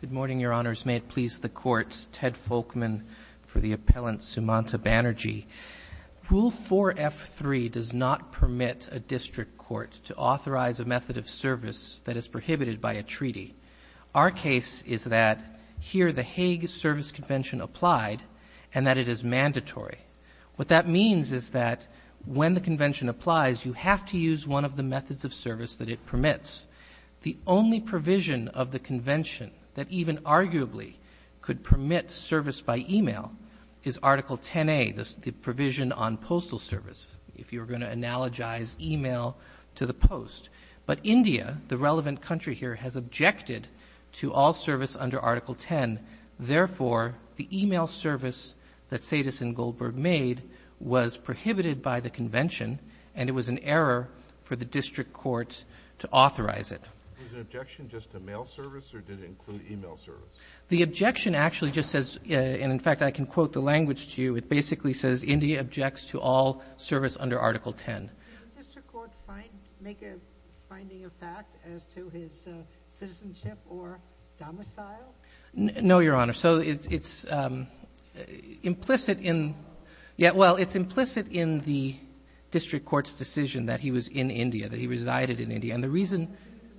Good morning, Your Honors. May it please the Court, Ted Folkman for the appellant, Sumanta Banerjee. Rule 4F3 does not permit a district court to authorize a method of service that is prohibited by a treaty. Our case is that here the Hague Service Convention applied and that it is mandatory. What that means is that when the convention applies, you have to use one of the methods of service that it permits. The only provision of the convention that even arguably could permit service by e-mail is Article 10A, the provision on postal service, if you were going to analogize e-mail to the post. But India, the relevant country here, has objected to all service under Article 10. Therefore, the e-mail service that Satis & Goldberg made was prohibited by the convention and it was an error for the district court to authorize it. Was the objection just a mail service or did it include e-mail service? The objection actually just says, and in fact I can quote the language to you, it basically says India objects to all service under Article 10. Did the district court make a finding of fact as to his citizenship or domicile? No, Your Honor. So it's implicit in the district court's decision that he was in India, that he resided in India. He's an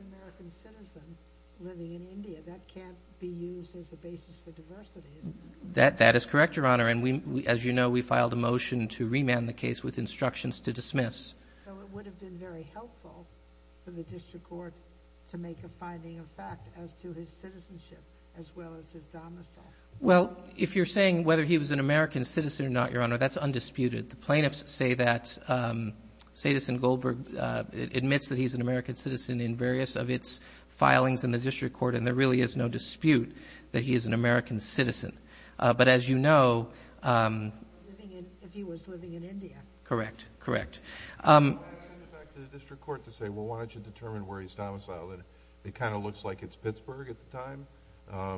American citizen living in India. That can't be used as a basis for diversity. That is correct, Your Honor. And as you know, we filed a motion to remand the case with instructions to dismiss. So it would have been very helpful for the district court to make a finding of fact as to his citizenship as well as his domicile. Well, if you're saying whether he was an American citizen or not, Your Honor, that's undisputed. The plaintiffs say that Satis & Goldberg admits that he's an American citizen in various of its filings in the district court and there really is no dispute that he is an American citizen. But as you know... If he was living in India. Correct. Correct. I would ask the district court to say, well, why don't you determine where he's domiciled and it kind of looks like it's Pittsburgh at the time,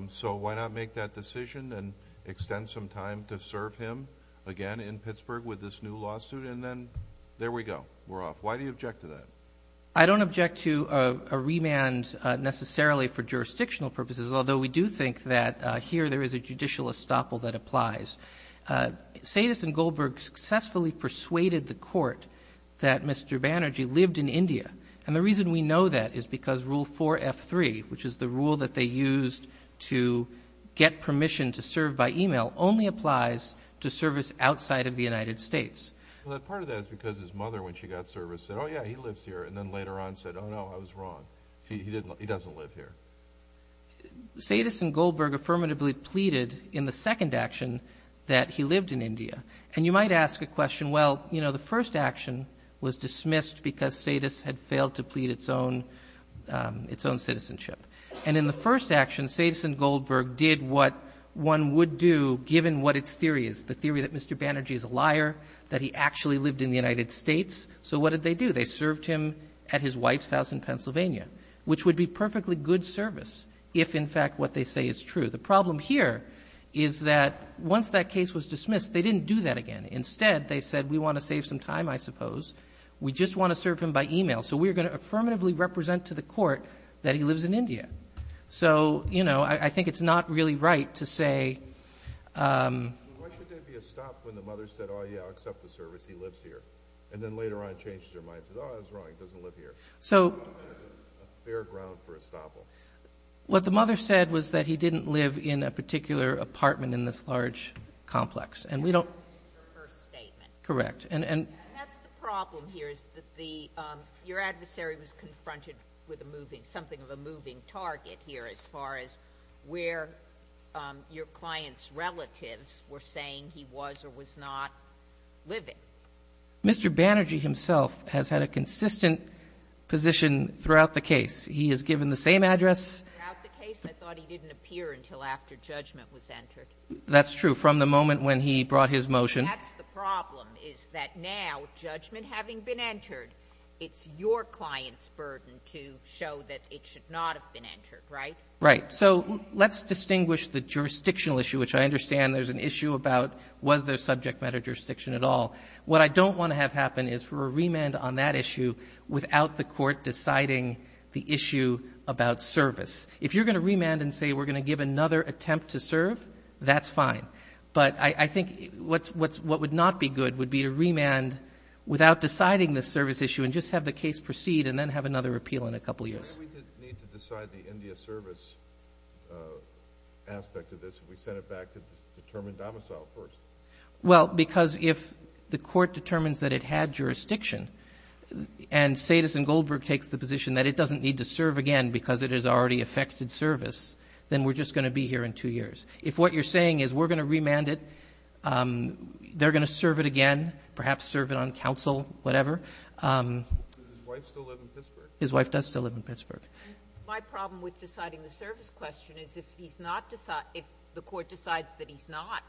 so why not make that decision and extend some time to serve him again in Pittsburgh with this new lawsuit and then there we go. We're off. Why do you object to that? I don't object to a remand necessarily for jurisdictional purposes, although we do think that here there is a judicial estoppel that applies. Satis & Goldberg successfully persuaded the court that Mr. Banerjee lived in India. And the reason we know that is because Rule 4F3, which is the rule that they used to get permission to serve by e-mail, only applies to service outside of the United States. Well, part of that is because his mother, when she got service, said, oh, yeah, he lives here, and then later on said, oh, no, I was wrong. He doesn't live here. Satis & Goldberg affirmatively pleaded in the second action that he lived in India. And you might ask a question, well, you know, the first action was dismissed because Satis had failed to plead its own citizenship. And in the first action, Satis & Goldberg did what one would do given what its theory is, the theory that Mr. Banerjee is a liar, that he actually lived in the United States. So what did they do? They served him at his wife's house in Pennsylvania, which would be perfectly good service if, in fact, what they say is true. The problem here is that once that case was dismissed, they didn't do that again. Instead, they said, we want to save some time, I suppose. We just want to serve him by e-mail. So we are going to affirmatively represent to the court that he lives in India. So, you know, I think it's not really right to say — Why should there be a stop when the mother said, oh, yeah, I'll accept the service, he lives here, and then later on changed her mind, said, oh, I was wrong, he doesn't live here. So — Fair ground for a stop. What the mother said was that he didn't live in a particular apartment in this large complex. And we don't — This is her first statement. Correct. And — And that's the problem here, is that the — your adversary was confronted with a moving — something of a moving target here as far as where your client's relatives were saying he was or was not living. Mr. Banerjee himself has had a consistent position throughout the case. He has given the same address — Throughout the case, I thought he didn't appear until after judgment was entered. That's true. From the moment when he brought his motion — That's the problem, is that now, judgment having been entered, it's your client's burden to show that it should not have been entered, right? Right. So let's distinguish the jurisdictional issue, which I understand there's an issue about was there subject matter jurisdiction at all. What I don't want to have happen is for a remand on that issue without the court deciding the issue about service. If you're going to remand and say we're going to give another attempt to serve, that's fine. But I think what would not be good would be to remand without deciding the service issue and just have the case proceed and then have another appeal in a couple years. Why do we need to decide the India service aspect of this if we send it back to determine domicile first? Well, because if the court determines that it had jurisdiction and Satis and then we're just going to be here in two years. If what you're saying is we're going to remand it, they're going to serve it again, perhaps serve it on counsel, whatever. Does his wife still live in Pittsburgh? His wife does still live in Pittsburgh. My problem with deciding the service question is if he's not — if the court decides that he's not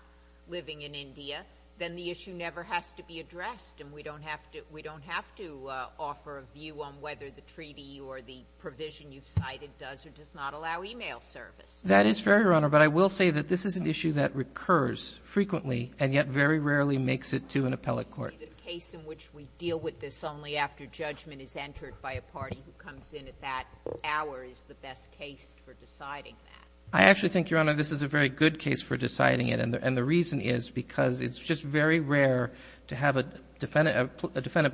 living in India, then the issue never has to be addressed and we don't have to — we don't have to offer a view on whether the treaty or the provision you've cited does or does not allow e-mail service. That is fair, Your Honor. But I will say that this is an issue that recurs frequently and yet very rarely makes it to an appellate court. The case in which we deal with this only after judgment is entered by a party who comes in at that hour is the best case for deciding that. I actually think, Your Honor, this is a very good case for deciding it. And the reason is because it's just very rare to have a defendant,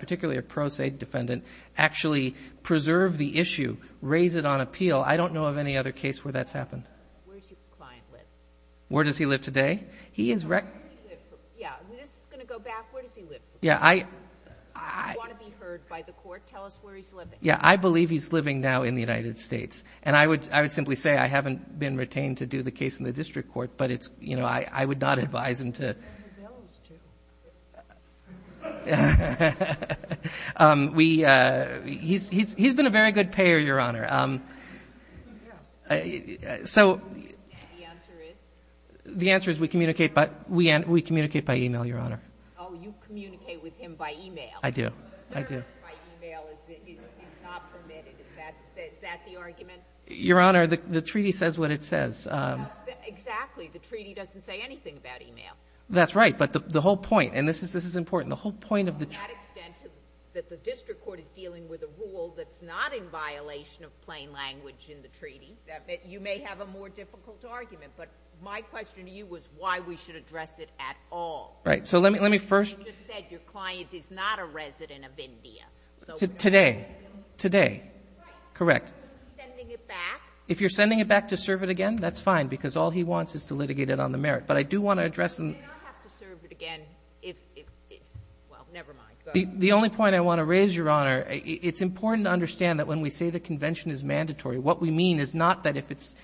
particularly a pro se defendant, actually preserve the issue, raise it on appeal. I don't know of any other case where that's happened. Where does your client live? Where does he live today? He is — Where does he live? Yeah. This is going to go back. Where does he live? Yeah, I — I want to be heard by the court. Tell us where he's living. Yeah, I believe he's living now in the United States. And I would simply say I haven't been retained to do the case in the district court, but it's — you know, I would not advise him to — He's been a very good payer, Your Honor. So — The answer is? The answer is we communicate by — we communicate by e-mail, Your Honor. Oh, you communicate with him by e-mail. I do. The service by e-mail is not permitted. Is that the argument? Your Honor, the treaty says what it says. Exactly. The treaty doesn't say anything about e-mail. That's right. But the whole point, and this is important, the whole point of the — To that extent that the district court is dealing with a rule that's not in violation of plain language in the treaty, you may have a more difficult argument. But my question to you was why we should address it at all. Right. So let me first — You just said your client is not a resident of India. So — Today. Today. Right. Correct. Sending it back? If you're sending it back to serve it again, that's fine, because all he wants is to litigate it on the merit. But I do want to address — He may not have to serve it again if — well, never mind. The only point I want to raise, Your Honor, it's important to understand that when we say the convention is mandatory, what we mean is not that if it's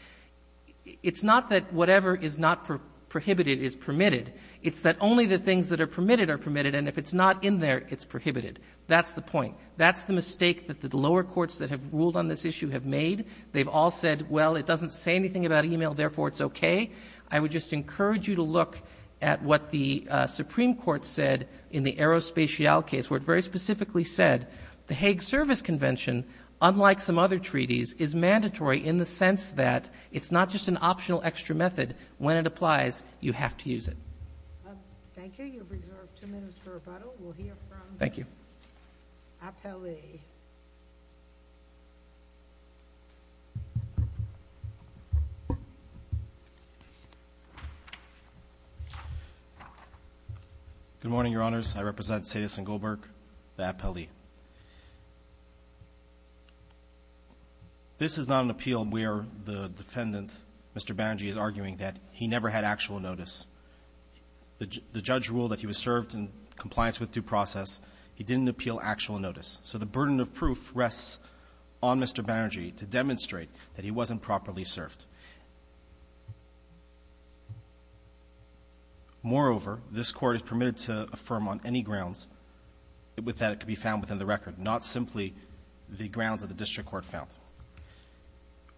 — it's not that whatever is not prohibited is permitted. It's that only the things that are permitted are permitted, and if it's not in there, it's prohibited. That's the point. That's the mistake that the lower courts that have ruled on this issue have made. They've all said, well, it doesn't say anything about e-mail, therefore it's okay. I would just encourage you to look at what the Supreme Court said in the Aerospatiale case, where it very specifically said the Hague Service Convention, unlike some other treaties, is mandatory in the sense that it's not just an optional extra method. When it applies, you have to use it. Thank you. You have reserved two minutes for rebuttal. We'll hear from — Thank you. Appellee. Good morning, Your Honors. I represent Sadis and Goldberg, the appellee. This is not an appeal where the defendant, Mr. Banji, is arguing that he never had actual notice. The judge ruled that he was served in compliance with due process. He didn't appeal actual notice. So the burden of proof rests on Mr. Banji to demonstrate that he wasn't properly served. Moreover, this Court is permitted to affirm on any grounds with that it could be found within the record, not simply the grounds that the district court found.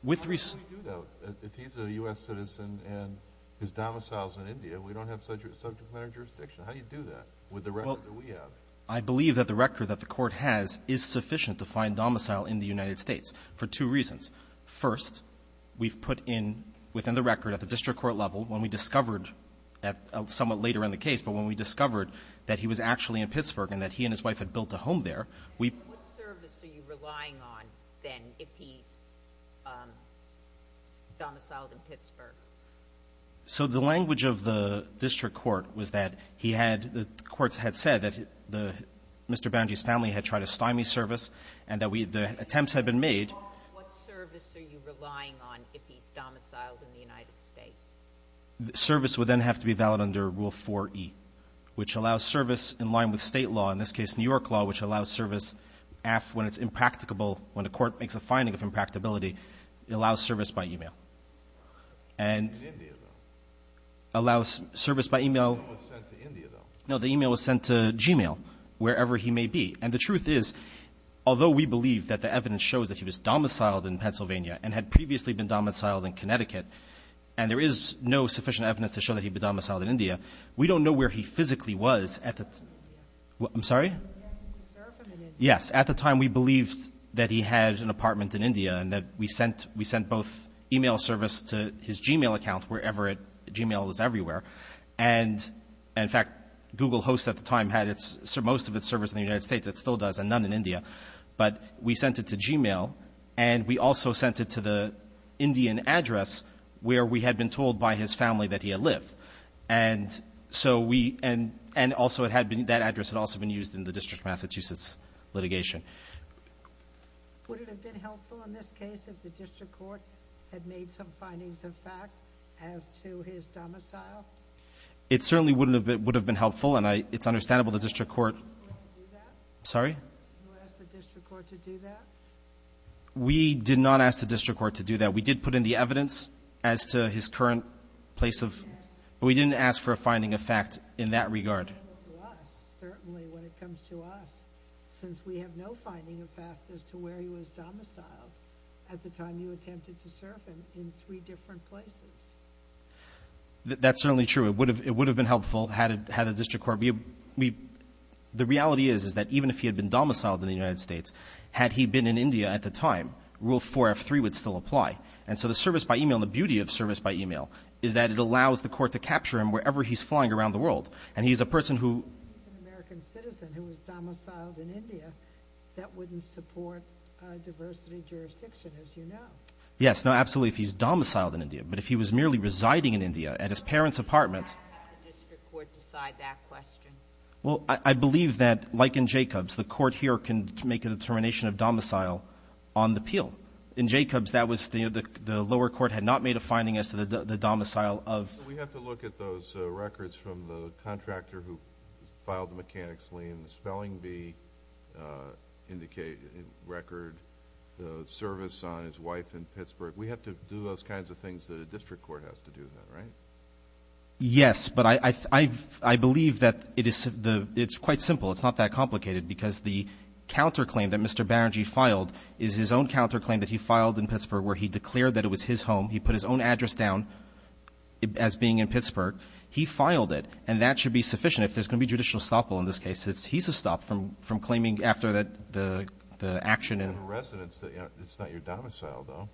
With — How do we do that? If he's a U.S. citizen and his domicile is in India, we don't have subject matter jurisdiction. How do you do that with the record that we have? Well, I believe that the record that the Court has is sufficient to find domicile in the United States for two reasons. First, we've put in within the record at the district court level, when we discovered at somewhat later in the case, but when we discovered that he was actually in Pittsburgh and that he and his wife had built a home there, we've — What service are you relying on, then, if he's domiciled in Pittsburgh? So the language of the district court was that he had — the court had said that Mr. Banji's family had tried to stymie service and that we — the attempts had been made. What service are you relying on if he's domiciled in the United States? Service would then have to be valid under Rule 4e, which allows service in line with State law, in this case New York law, which allows service when it's impracticable — when a court makes a finding of impracticability, it allows service by e-mail. And — In India, though. Allows service by e-mail. He was sent to India, though. No, the e-mail was sent to Gmail, wherever he may be. And the truth is, although we believe that the evidence shows that he was domiciled in Pennsylvania and had previously been domiciled in Connecticut, and there is no sufficient evidence to show that he'd been domiciled in India, we don't know where he physically was at the — In India. I'm sorry? Yes, he served in India. Yes. But we sent — we sent both e-mail service to his Gmail account, wherever it — Gmail was everywhere. And, in fact, Google Host at the time had its — most of its service in the United States. It still does, and none in India. But we sent it to Gmail, and we also sent it to the Indian address where we had been told by his family that he had lived. And so we — and also it had been — that address had also been used in the District of Massachusetts litigation. Would it have been helpful in this case if the district court had made some findings of fact as to his domicile? It certainly would have been helpful, and I — it's understandable the district court — Would you ask the district court to do that? Sorry? Would you ask the district court to do that? We did not ask the district court to do that. We did put in the evidence as to his current place of — but we didn't ask for a finding of fact in that regard. Certainly when it comes to us, since we have no finding of fact as to where he was domiciled at the time you attempted to serve him in three different places. That's certainly true. It would have been helpful had the district court — we — the reality is, is that even if he had been domiciled in the United States, had he been in India at the time, Rule 4F3 would still apply. And so the service by email, the beauty of service by email, is that it allows the court to capture him wherever he's flying around the world. And he's a person who — If he's an American citizen who was domiciled in India, that wouldn't support diversity jurisdiction, as you know. Yes. No, absolutely, if he's domiciled in India. But if he was merely residing in India at his parents' apartment — Would you ask the district court to decide that question? Well, I believe that, like in Jacobs, the court here can make a determination of domicile on the appeal. In Jacobs, that was — the lower court had not made a finding as to the domicile of — So we have to look at those records from the contractor who filed the mechanics lien, the spelling bee record, the service on his wife in Pittsburgh. We have to do those kinds of things that a district court has to do then, right? Yes. But I believe that it is — it's quite simple. It's not that complicated, because the counterclaim that Mr. Barangay filed is his own counterclaim that he filed in Pittsburgh, where he declared that it was his home. He put his own address down as being in Pittsburgh. He filed it. And that should be sufficient. If there's going to be judicial stoppable in this case, he's to stop from claiming after the action and — You have a residence. It's not your domicile, though.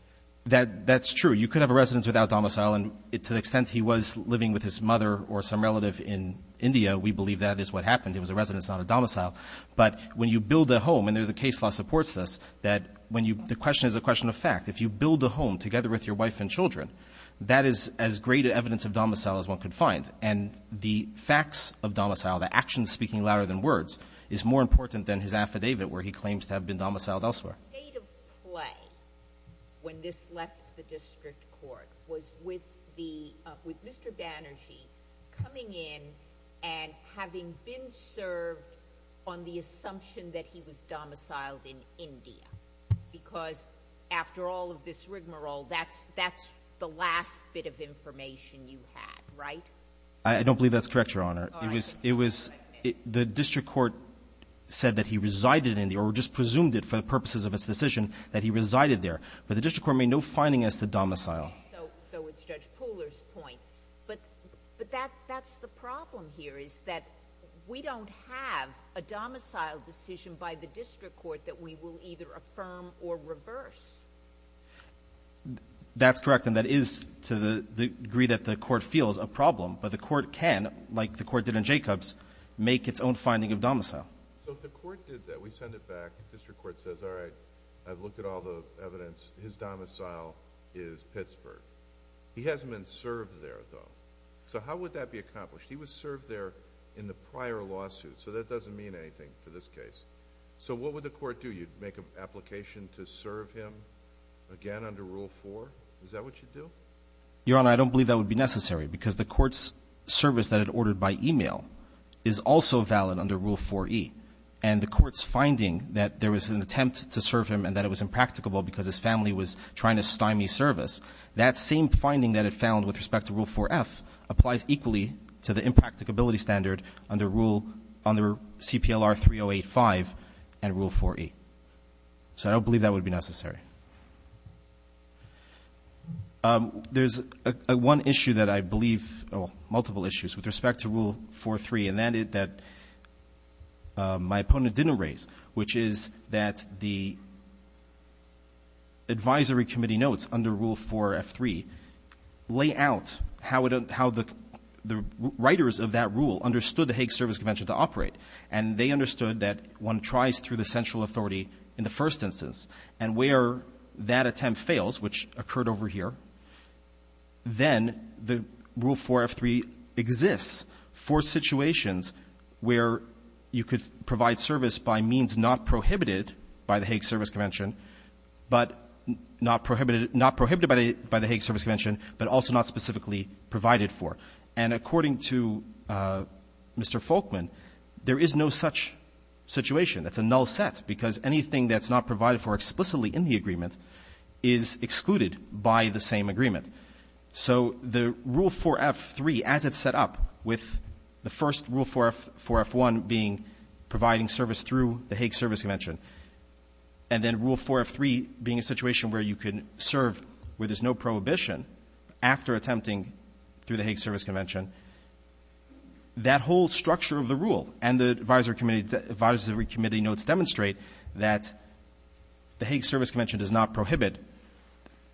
That's true. You could have a residence without domicile. And to the extent he was living with his mother or some relative in India, we believe that is what happened. It was a residence, not a domicile. But when you build a home, and the case law supports this, that when you — the question is a question of fact. If you build a home together with your wife and children, that is as great an evidence of domicile as one could find. And the facts of domicile, the actions speaking louder than words, is more important than his affidavit where he claims to have been domiciled elsewhere. The state of play when this left the district court was with the — with Mr. Banerjee coming in and having been served on the assumption that he was domiciled in India, because after all of this rigmarole, that's — that's the last bit of information you had, right? I don't believe that's correct, Your Honor. It was — it was — the district court said that he resided in the — or just presumed it for the purposes of its decision that he resided there. But the district court made no finding as to domicile. So it's Judge Pooler's point. But that's the problem here is that we don't have a domicile decision by the district court that we will either affirm or reverse. That's correct. And that is, to the degree that the court feels, a problem. But the court can, like the court did in Jacobs, make its own finding of domicile. So if the court did that, we send it back, the district court says, all right, I've looked at all the evidence. His domicile is Pittsburgh. He hasn't been served there, though. So how would that be accomplished? He was served there in the prior lawsuit. So that doesn't mean anything for this case. So what would the court do? You'd make an application to serve him again under Rule 4? Is that what you'd do? Your Honor, I don't believe that would be necessary because the court's service that it ordered by email is also valid under Rule 4E. And the court's finding that there was an attempt to serve him and that it was impracticable because his family was trying to stymie service, that same finding that it found with respect to Rule 4F applies equally to the impracticability standard under Rule — under CPLR 3085 and Rule 4E. So I don't believe that would be necessary. There's one issue that I believe — well, multiple issues with respect to Rule 4.3 that my opponent didn't raise, which is that the advisory committee notes under Rule 4F.3 lay out how the writers of that rule understood the Hague Service Convention to operate. And they understood that one tries through the central authority in the first instance. And where that attempt fails, which occurred over here, then the Rule 4F.3 exists for situations where you could provide service by means not prohibited by the Hague Service Convention, but not prohibited — not prohibited by the Hague Service Convention, but also not specifically provided for. And according to Mr. Folkman, there is no such situation. That's a null set, because anything that's not provided for explicitly in the agreement is excluded by the same agreement. So the Rule 4F.3, as it's set up, with the first Rule 4F.1 being providing service through the Hague Service Convention, and then Rule 4.3 being a situation where you can serve where there's no prohibition after attempting through the Hague Service Convention, that whole structure of the rule and the advisory committee notes demonstrate that the Hague Service Convention does not prohibit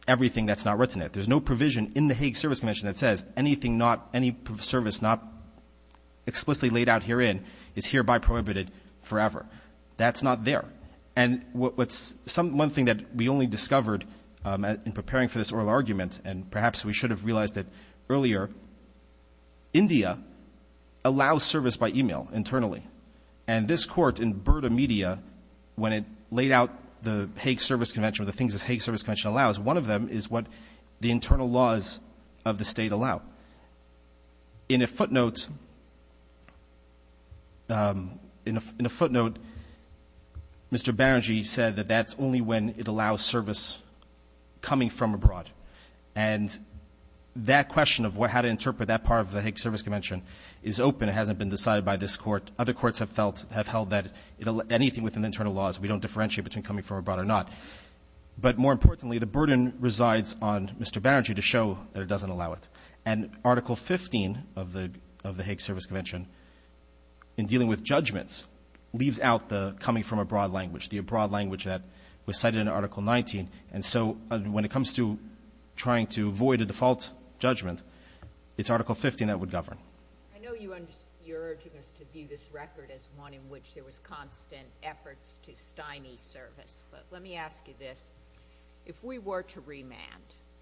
everything that's not written in it. There's no provision in the Hague Service Convention that says anything not — any service not explicitly laid out herein is hereby prohibited forever. That's not there. And what's — one thing that we only discovered in preparing for this oral argument, and perhaps we should have realized it earlier, India allows service by e-mail internally. And this Court in Burda Media, when it laid out the Hague Service Convention or the things this Hague Service Convention allows, one of them is what the internal laws of the State allow. In a footnote — in a footnote, Mr. Berenji said that that's only when it allows service coming from abroad. And that question of how to interpret that part of the Hague Service Convention is open. It hasn't been decided by this Court. Other courts have felt — have held that anything within the internal laws, we don't differentiate between coming from abroad or not. But more importantly, the burden resides on Mr. Berenji to show that it doesn't allow it. And Article 15 of the — of the Hague Service Convention, in dealing with judgments, leaves out the coming from abroad language, the abroad language that was cited in Article 19. And so when it comes to trying to avoid a default judgment, it's Article 15 that would govern. I know you're urging us to view this record as one in which there was constant efforts to stymie service. But let me ask you this. If we were to remand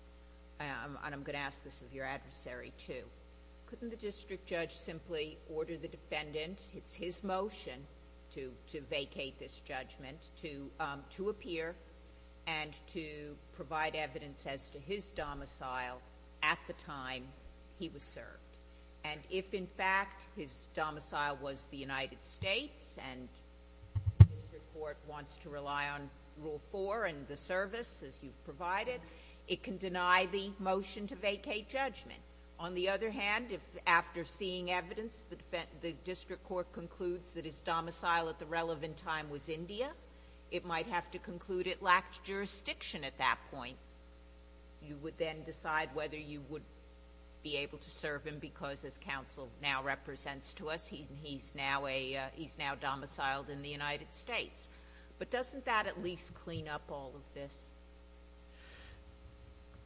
— and I'm going to ask this of your adversary, too — couldn't the district judge simply order the defendant — it's his motion to vacate this judgment — to appear and to provide evidence as to his domicile at the time he was served? And if, in fact, his domicile was the United States and the district court wants to rely on Rule 4 and the service as you've provided, it can deny the motion to vacate judgment. On the other hand, if after seeing evidence, the district court concludes that his domicile at the relevant time was India, it might have to conclude it lacked jurisdiction at that point. You would then decide whether you would be able to serve him because his counsel now represents to us he's now a — he's now domiciled in the United States. But doesn't that at least clean up all of this?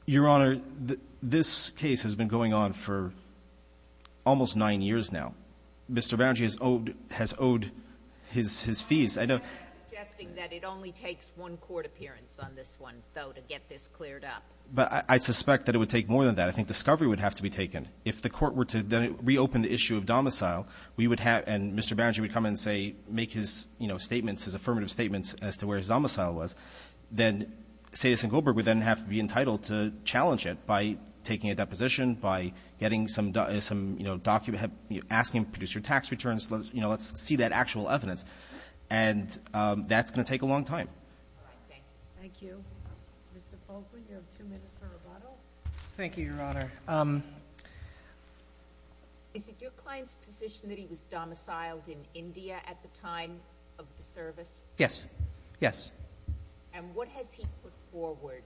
Your Honor, this case has been going on for almost nine years now. Mr. Banerjee has owed his fees. I know — You're suggesting that it only takes one court appearance on this one, though, to get this cleared up. But I suspect that it would take more than that. I think discovery would have to be taken. If the court were to then reopen the issue of domicile, we would have — and Mr. Banerjee would come in and say — make his, you know, statements, his affirmative statements as to where his domicile was. Then Satis and Goldberg would then have to be entitled to challenge it by taking a deposition, by getting some — you know, asking him to produce your tax returns, you know, let's see that actual evidence. And that's going to take a long time. All right. Thank you. Thank you. Mr. Folkman, you have two minutes for rebuttal. Thank you, Your Honor. Is it your client's position that he was domiciled in India at the time of the service? Yes. Yes. And what has he put forward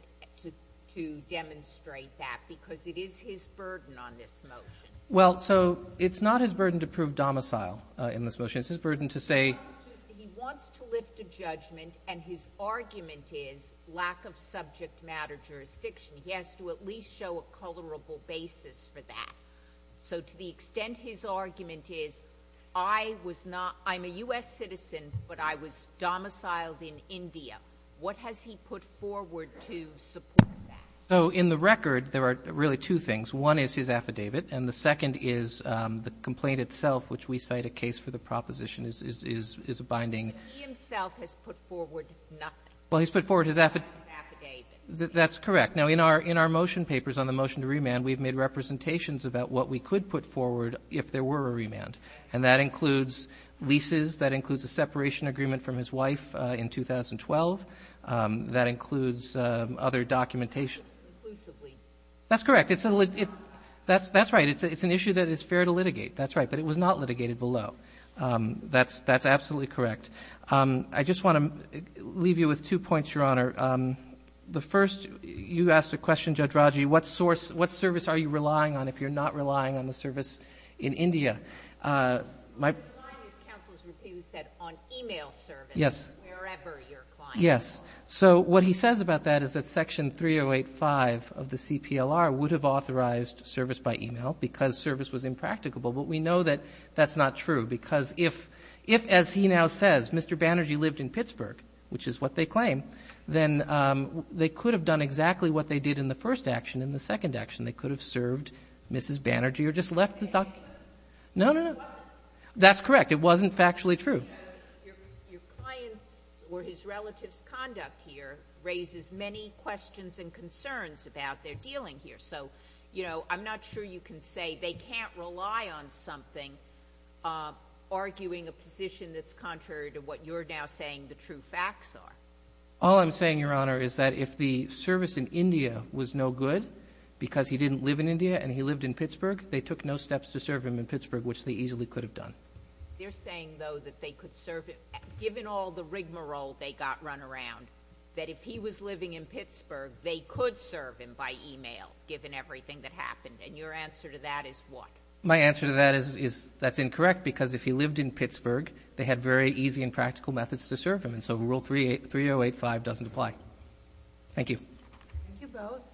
to demonstrate that? Because it is his burden on this motion. Well, so it's not his burden to prove domicile in this motion. It's his burden to say — He wants to lift a judgment, and his argument is lack of subject matter jurisdiction. He has to at least show a colorable basis for that. So to the extent his argument is I was not — I'm a U.S. citizen, but I was domiciled in India, what has he put forward to support that? So in the record, there are really two things. One is his affidavit, and the second is the complaint itself, which we cite a case for the proposition is a binding — He himself has put forward nothing. Well, he's put forward his affidavit. That's correct. Now, in our motion papers on the motion to remand, we've made representations about what we could put forward if there were a remand. And that includes leases. That includes a separation agreement from his wife in 2012. That includes other documentation. Inclusively. That's correct. That's right. It's an issue that is fair to litigate. That's right. But it was not litigated below. That's absolutely correct. I just want to leave you with two points, Your Honor. The first, you asked a question, Judge Raji, what source — what service are you relying on if you're not relying on the service in India? My — I'm relying, as counsel has repeatedly said, on e-mail service. Yes. Wherever your client is. Yes. So what he says about that is that Section 3085 of the CPLR would have authorized service by e-mail because service was impracticable. But we know that that's not true. Because if, as he now says, Mr. Banerjee lived in Pittsburgh, which is what they claim, then they could have done exactly what they did in the first action in the second action. They could have served Mrs. Banerjee or just left the — No, no, no. It wasn't. That's correct. It wasn't factually true. Your client's or his relative's conduct here raises many questions and concerns about their dealing here. So, you know, I'm not sure you can say they can't rely on something arguing a position that's contrary to what you're now saying the true facts are. All I'm saying, Your Honor, is that if the service in India was no good because he didn't live in India and he lived in Pittsburgh, they took no steps to serve him in Pittsburgh, which they easily could have done. They're saying, though, that they could serve him — given all the rigmarole they got run if he was living in Pittsburgh, they could serve him by e-mail, given everything that happened. And your answer to that is what? My answer to that is that's incorrect because if he lived in Pittsburgh, they had very easy and practical methods to serve him. And so Rule 3085 doesn't apply. Thank you. Thank you both.